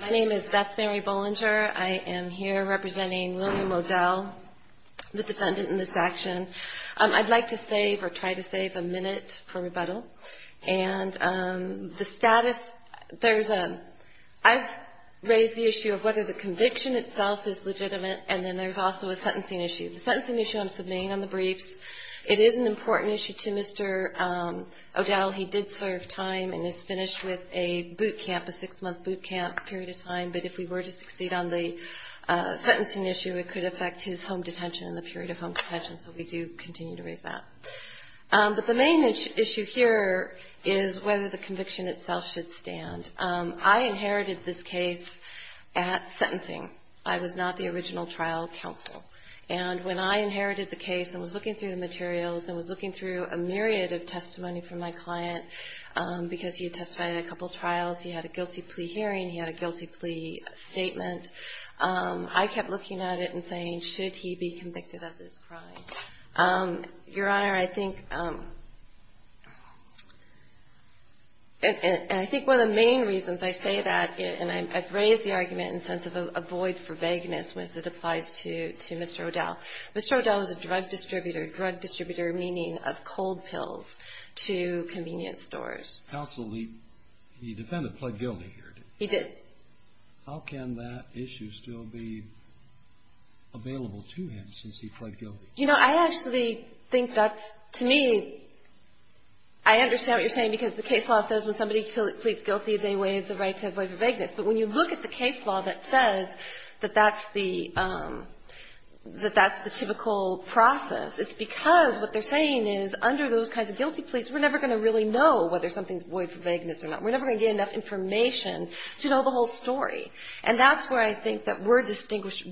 My name is Beth Mary Bollinger. I am here representing William O'Dell, the defendant in this action. I'd like to save or try to save a minute for rebuttal. And the status, there's a – I've raised the issue of whether the conviction itself is legitimate, and then there's also a sentencing issue. The sentencing issue I'm submitting on the briefs. It is an important issue to Mr. O'Dell. He did serve time and is finished with a boot camp, a six-month boot camp period of time, but if we were to succeed on the sentencing issue, it could affect his home detention and the period of home detention, so we do continue to raise that. But the main issue here is whether the conviction itself should stand. I inherited this case at sentencing. I was not the original trial counsel. And when I inherited the case and was looking through the materials and was looking through a myriad of testimony from my client, because he had testified at a couple trials, he had a guilty plea hearing, he had a guilty plea statement, I kept looking at it and saying, should he be convicted of this crime? Your Honor, I think – and I think one of the main reasons I say that, and I've raised the argument in the sense of a void for vagueness, was it applies to Mr. O'Dell. Mr. O'Dell is a drug distributor, drug distributor meaning of cold pills to convenience stores. Counsel, the defendant pled guilty here, didn't he? He did. How can that issue still be available to him since he pled guilty? You know, I actually think that's – to me, I understand what you're saying because the case law says when somebody pleads guilty, they waive the right to a void for vagueness. But when you look at the case law that says that that's the – that that's the typical process, it's because what they're saying is under those kinds of guilty pleas, we're never going to really know whether something's void for vagueness or not. We're never going to get enough information to know the whole story. And that's where I think that we're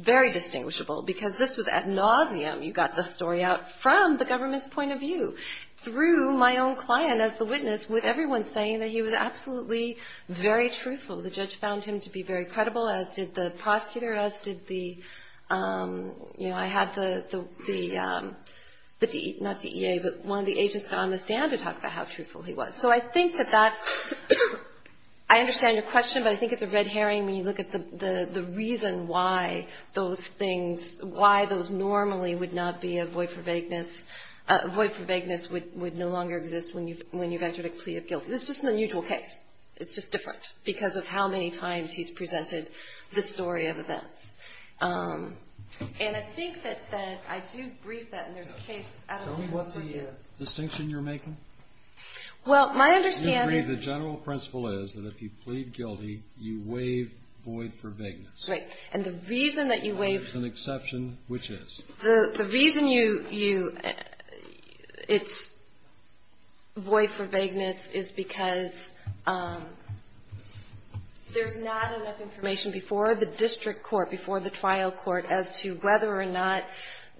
very distinguishable, because this was ad nauseum. You got the story out from the government's point of view through my own client as the witness with everyone saying that he was absolutely very truthful. The judge found him to be very credible, as did the prosecutor, as did the – you know, I had the – not DEA, but one of the agents got on the stand to talk about how truthful he was. So I think that that's – I understand your question, but I think it's a red herring when you look at the reason why those things – why those normally would not be a void for vagueness – a void for vagueness would no longer exist when you've entered a plea of guilt. This is just an unusual case. It's just different because of how many times he's presented the story of events. And I think that that – I do agree that there's a case – Tell me what's the distinction you're making. Well, my understanding – You agree the general principle is that if you plead guilty, you waive void for vagueness. Right. And the reason that you waive – There's an exception, which is? The reason you – it's void for vagueness is because there's not enough information before the district court, before the trial court, as to whether or not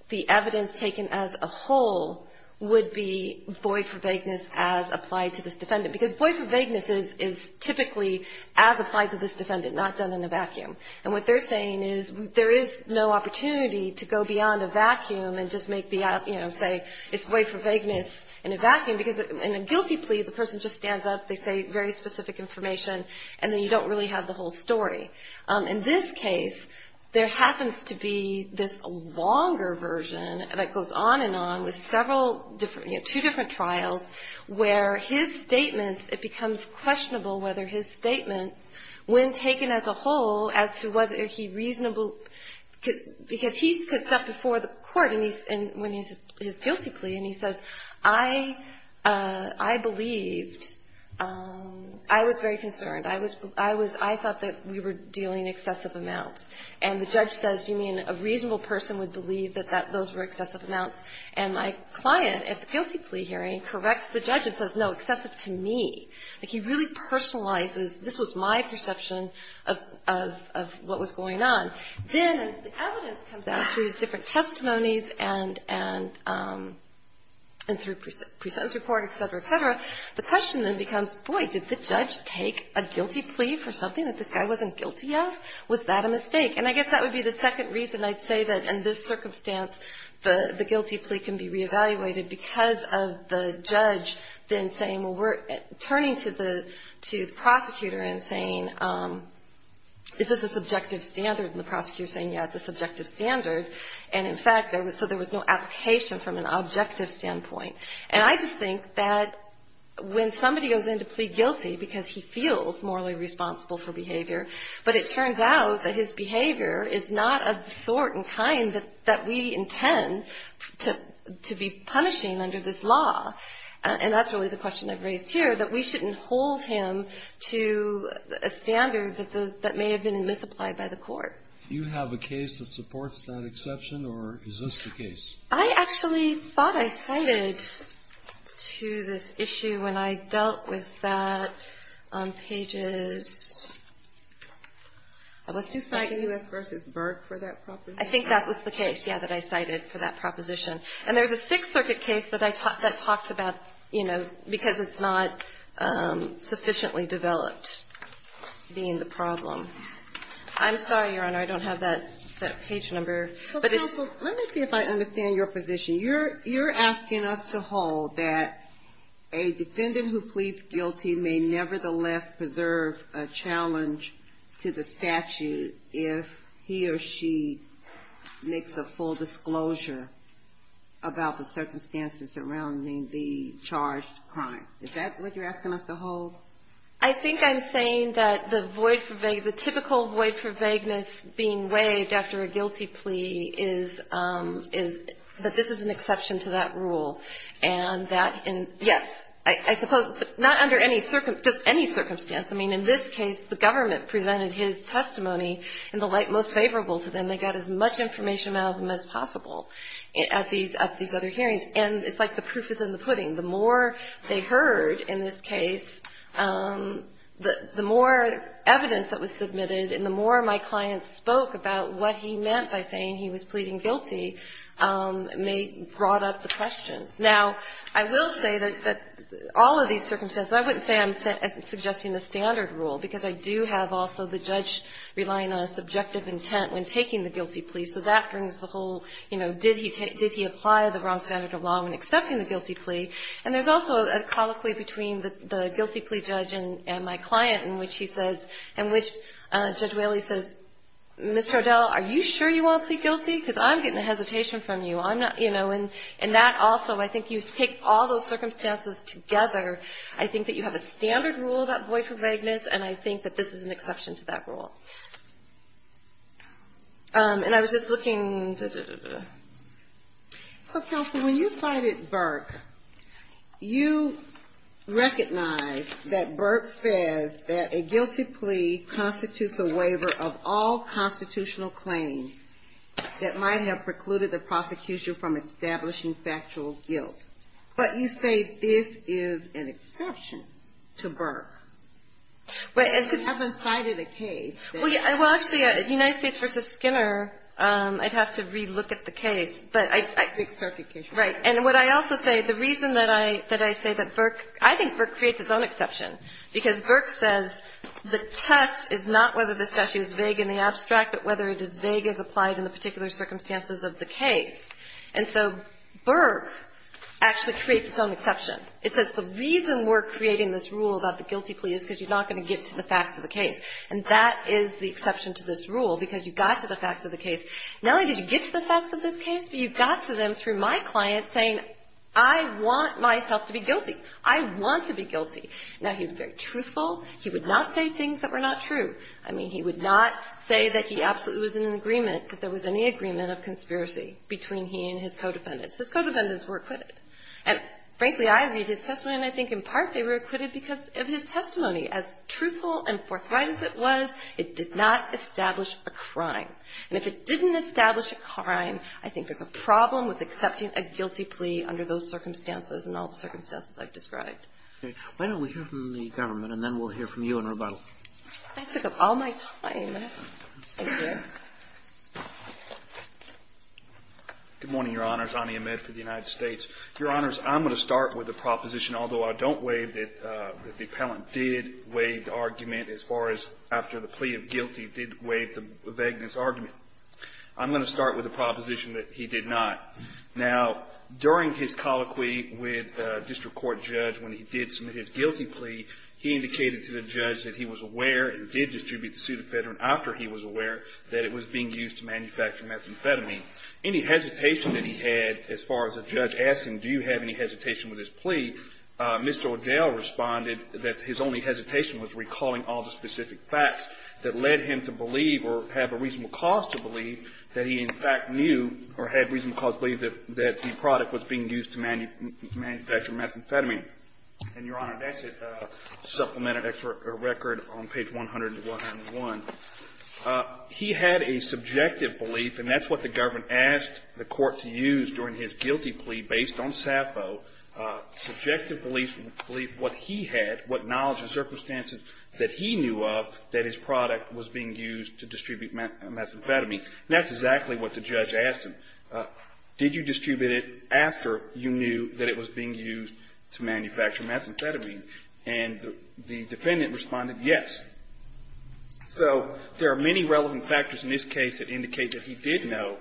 the evidence taken as a whole would be void for vagueness as applied to this defendant. Because void for vagueness is typically as applied to this defendant, not done in a vacuum. And what they're saying is there is no opportunity to go beyond a vacuum and just make the – you know, say it's void for vagueness in a vacuum. Because in a guilty plea, the person just stands up, they say very specific information, and then you don't really have the whole story. In this case, there happens to be this longer version that goes on and on with several different – you know, two different trials where his statements – it becomes questionable whether his statements, when taken as a whole, as to whether he reasonably – because he sits up before the court and he's – when he's – his guilty plea, and he says, I – I believed – I was very concerned. I was – I was – I thought that we were dealing excessive amounts. And the judge says, you mean a reasonable person would believe that that – those were excessive amounts? And my client at the guilty plea hearing corrects the judge and says, no, excessive to me. Like, he really personalizes, this was my perception of – of – of what was going on. Then, as the evidence comes out through his different testimonies and – and through pre-sentence report, et cetera, et cetera, the question then becomes, boy, did the judge take a guilty plea for something that this guy wasn't guilty of? Was that a mistake? And I guess that would be the second reason I'd say that, in this circumstance, the – the guilty plea can be reevaluated because of the judge then saying, well, we're turning to the – to the prosecutor and saying, is this a subjective standard? And the prosecutor's saying, yeah, it's a subjective standard. And, in fact, there was – so there was no application from an objective standpoint. And I just think that when somebody goes in to plead guilty because he feels morally responsible for behavior, but it turns out that his behavior is not of the sort and kind that – that we intend to – to be punishing under this law. And that's really the question I've raised here, that we shouldn't hold him to a standard that the – that may have been misapplied by the court. Do you have a case that supports that exception, or is this the case? I actually thought I cited to this issue when I dealt with that on pages – let's do – Did you cite U.S. v. Burke for that proposition? I think that was the case, yeah, that I cited for that proposition. And there's a Sixth Circuit case that I – that talks about, you know, because it's not sufficiently developed being the problem. I'm sorry, Your Honor, I don't have that – that page number. So counsel, let me see if I understand your position. You're – you're asking us to hold that a defendant who pleads guilty may nevertheless preserve a challenge to the statute if he or she makes a full disclosure about the circumstances surrounding the charged crime. Is that what you're asking us to hold? I think I'm saying that the void for – the typical void for vagueness being waived after a guilty plea is – is that this is an exception to that rule. And that – and, yes, I suppose – but not under any – just any circumstance. I mean, in this case, the government presented his testimony in the light most favorable to them. They got as much information out of him as possible at these – at these other hearings. And it's like the proof is in the pudding. The more they heard in this case, the more evidence that was submitted and the more my client spoke about what he meant by saying he was pleading guilty may – brought up the questions. Now, I will say that all of these circumstances – I wouldn't say I'm suggesting the standard rule, because I do have also the judge relying on subjective intent when taking the guilty plea. So that brings the whole, you know, did he take – did he apply the wrong standard of law when accepting the guilty plea. And there's also a colloquy between the guilty plea judge and my client in which she says – in which Judge Whaley says, Mr. O'Dell, are you sure you won't plead guilty? Because I'm getting a hesitation from you. I'm not – you know, and that also – I think you take all those circumstances together. I think that you have a standard rule about void for vagueness, and I think that this is an exception to that rule. And I was just looking – So, Counsel, when you cited Burke, you recognized that Burke says that a guilty plea constitutes a waiver of all constitutional claims that might have precluded the prosecution from establishing factual guilt. But you say this is an exception to Burke. You haven't cited a case that – Well, actually, United States v. Skinner, I'd have to re-look at the case. But I – Right. And what I also say, the reason that I say that Burke – I think Burke creates its own exception, because Burke says the test is not whether the statute is vague in the abstract, but whether it is vague as applied in the particular circumstances of the case. And so Burke actually creates its own exception. It says the reason we're creating this rule about the guilty plea is because you're not going to get to the facts of the case. And that is the exception to this rule, because you got to the facts of the case. Not only did you get to the facts of this case, but you got to them through my client saying, I want myself to be guilty. I want to be guilty. Now, he was very truthful. He would not say things that were not true. I mean, he would not say that he absolutely was in agreement, that there was any agreement of conspiracy between he and his co-defendants. His co-defendants were acquitted. And, frankly, I read his testimony, and I think in part they were acquitted because of his testimony. As truthful and forthright as it was, it did not establish a crime. And if it didn't establish a crime, I think there's a problem with accepting a guilty plea under those circumstances and all the circumstances I've described. Okay. Why don't we hear from the government, and then we'll hear from you in rebuttal. I took up all my time. Thank you. Good morning, Your Honors. Ani Ahmed for the United States. Your Honors, I'm going to start with a proposition, although I don't waive it, that Mr. Pellant did waive the argument as far as after the plea of guilty, did waive the vagueness argument. I'm going to start with the proposition that he did not. Now, during his colloquy with a district court judge when he did submit his guilty plea, he indicated to the judge that he was aware and did distribute the pseudofedrin after he was aware that it was being used to manufacture methamphetamine. Any hesitation that he had as far as a judge asking, do you have any hesitation with this plea, Mr. O'Dell responded that his only hesitation was recalling all the specific facts that led him to believe or have a reasonable cause to believe that he, in fact, knew or had reasonable cause to believe that the product was being used to manufacture methamphetamine. And, Your Honor, that's a supplement or record on page 101. He had a subjective belief, and that's what the government asked the court to use during his guilty plea based on Sappho, subjective belief, what he had, what knowledge and circumstances that he knew of that his product was being used to distribute methamphetamine. And that's exactly what the judge asked him. Did you distribute it after you knew that it was being used to manufacture methamphetamine? And the defendant responded yes. So there are many relevant factors in this case that indicate that he did know,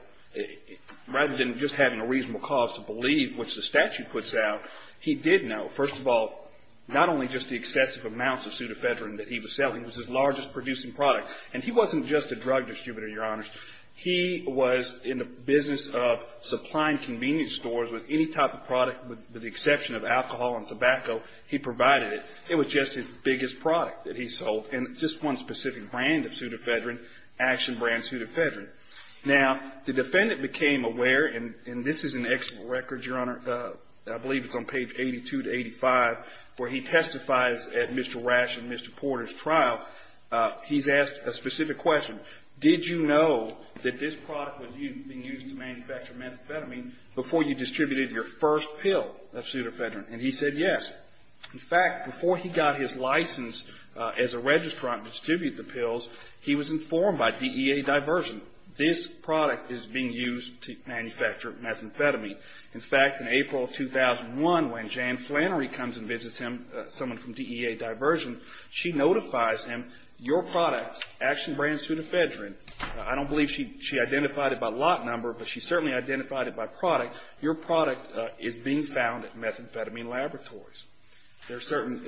rather than just having a reasonable cause to believe, which the statute puts out, he did know, first of all, not only just the excessive amounts of pseudoephedrine that he was selling, it was his largest producing product. And he wasn't just a drug distributor, Your Honors. He was in the business of supplying convenience stores with any type of product with the exception of alcohol and tobacco. He provided it. It was just his biggest product that he sold, and just one specific brand of pseudoephedrine, Action brand pseudoephedrine. Now, the defendant became aware, and this is in the expert records, Your Honor, I believe it's on page 82 to 85, where he testifies at Mr. Rash and Mr. Porter's trial. He's asked a specific question. Did you know that this product was being used to manufacture methamphetamine before you distributed your first pill of pseudoephedrine? And he said yes. In fact, before he got his license as a registrant to distribute the pills, he was informed by DEA Diversion, this product is being used to manufacture methamphetamine. In fact, in April of 2001, when Jan Flannery comes and visits him, someone from DEA Diversion, she notifies him, your product, Action brand pseudoephedrine. I don't believe she identified it by lot number, but she certainly identified it by product. Your product is being found at methamphetamine laboratories. There are certain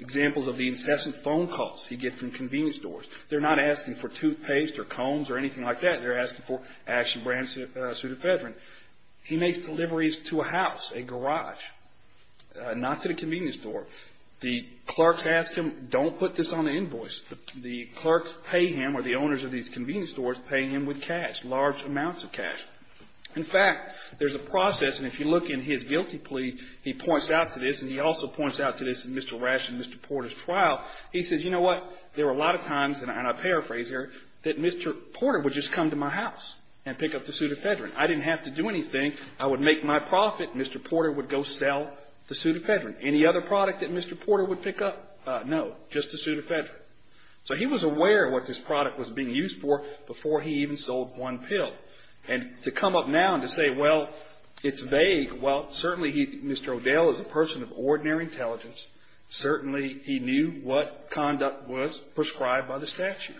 examples of the incessant phone calls he gets from convenience stores. They're not asking for toothpaste or combs or anything like that. They're asking for Action brand pseudoephedrine. He makes deliveries to a house, a garage, not to the convenience store. The clerks ask him, don't put this on the invoice. The clerks pay him or the owners of these convenience stores pay him with cash, large amounts of cash. In fact, there's a process, and if you look in his guilty plea, he points out to this, and he also points out to this in Mr. Rash and Mr. Porter's trial. He says, you know what, there were a lot of times, and I paraphrase here, that Mr. Porter would just come to my house and pick up the pseudoephedrine. I didn't have to do anything. I would make my profit, and Mr. Porter would go sell the pseudoephedrine. Any other product that Mr. Porter would pick up? No, just the pseudoephedrine. So he was aware of what this product was being used for before he even sold one pill. And to come up now and to say, well, it's vague, well, certainly Mr. O'Dell is a person of ordinary intelligence. Certainly he knew what conduct was prescribed by the statute.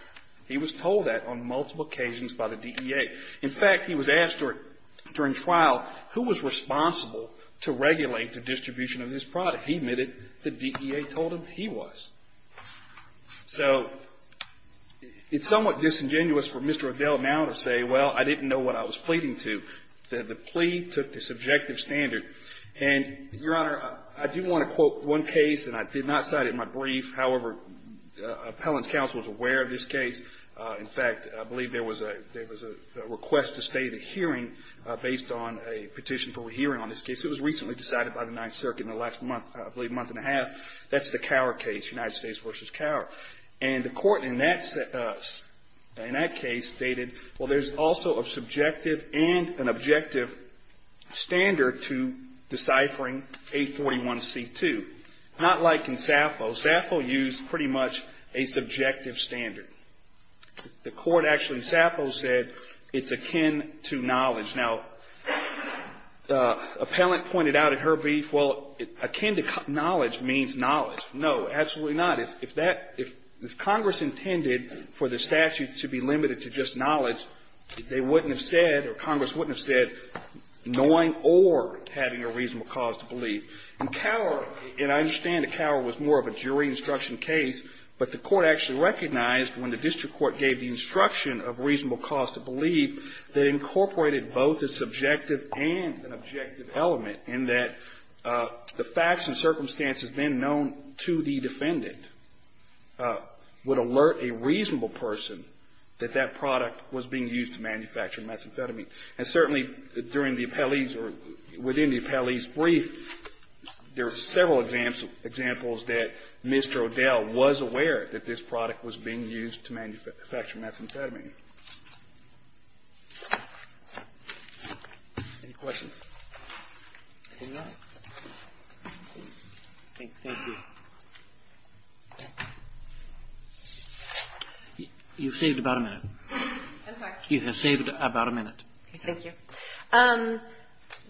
He was told that on multiple occasions by the DEA. In fact, he was asked during trial who was responsible to regulate the distribution of this product. He admitted the DEA told him he was. So it's somewhat disingenuous for Mr. O'Dell now to say, well, I didn't know what I was pleading to. The plea took the subjective standard. And, Your Honor, I do want to quote one case, and I did not cite it in my brief. However, appellant's counsel was aware of this case. In fact, I believe there was a request to stay the hearing based on a petition for a hearing on this case. It was recently decided by the Ninth Circuit in the last month, I believe, month and a half. That's the Cower case, United States v. Cower. And the Court in that case stated, well, there's also a subjective and an objective standard to deciphering A41C2. Not like in Sappho. Sappho used pretty much a subjective standard. The Court actually in Sappho said it's akin to knowledge. Now, appellant pointed out in her brief, well, akin to knowledge means knowledge. No, absolutely not. If Congress intended for the statute to be limited to just knowledge, they wouldn't have said, or Congress wouldn't have said, knowing or having a reasonable cause to believe. In Cower, and I understand that Cower was more of a jury instruction case, but the Court actually recognized when the district court gave the instruction of reasonable cause to believe, they incorporated both a subjective and an objective element in that the facts and circumstances then known to the defendant would alert a reasonable person that that product was being used to manufacture methamphetamine. And certainly during the appellee's or within the appellee's brief, there were several examples that Mr. O'Dell was aware that this product was being used to manufacture methamphetamine. Any questions? If not, thank you. You've saved about a minute. I'm sorry. You have saved about a minute. Thank you.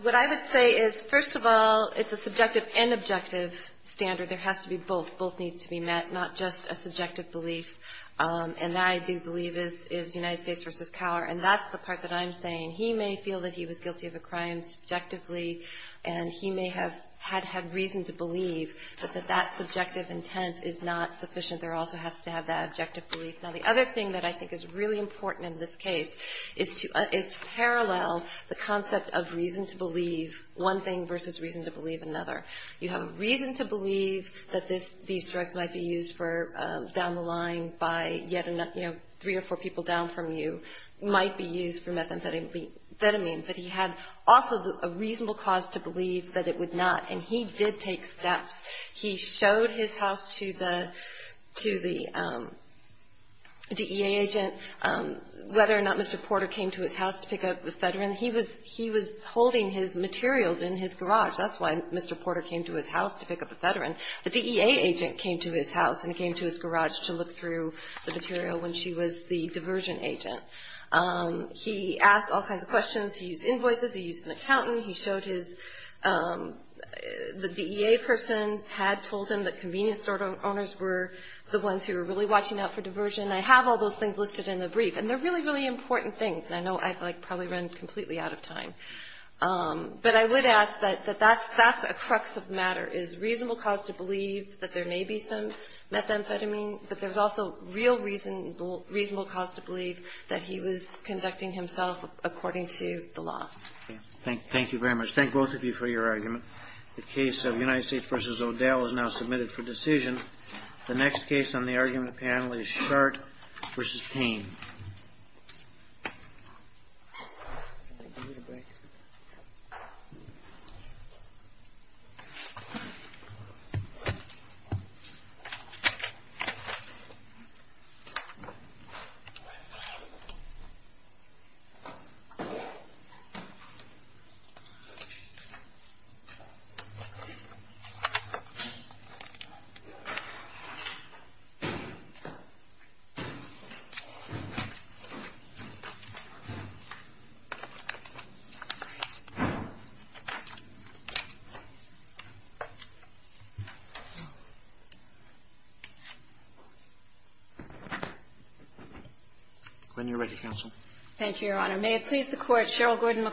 What I would say is, first of all, it's a subjective and objective standard. There has to be both. Both needs to be met, not just a subjective belief. And that I do believe is United States v. Cower, and that's the part that I'm saying. He may feel that he was guilty of a crime subjectively, and he may have had reason to believe that that subjective intent is not sufficient. There also has to have that objective belief. Now, the other thing that I think is really important in this case is to parallel the concept of reason to believe one thing versus reason to believe another. You have reason to believe that these drugs might be used for down the line by three or four people down from you, might be used for methamphetamine, but he had also a reasonable cause to believe that it would not. And he did take steps. He showed his house to the DEA agent, whether or not Mr. Porter came to his house to pick up the ephedrine. He was holding his materials in his garage. That's why Mr. Porter came to his house to pick up the ephedrine. The DEA agent came to his house and came to his garage to look through the material when she was the diversion agent. He asked all kinds of questions. He used invoices. He used an accountant. He showed his the DEA person had told him that convenience store owners were the ones who were really watching out for diversion. I have all those things listed in the brief. And they're really, really important things. And I know I've, like, probably run completely out of time. But I would ask that that's a crux of the matter, is reasonable cause to believe that there may be some methamphetamine, but there's also real reasonable cause to believe that he was conducting himself according to the law. Thank you very much. Thank both of you for your argument. The case of United States v. O'Dell is now submitted for decision. The next case on the argument panel is Shart v. Payne. When you're ready, counsel. Thank you, Your Honor. Thank you.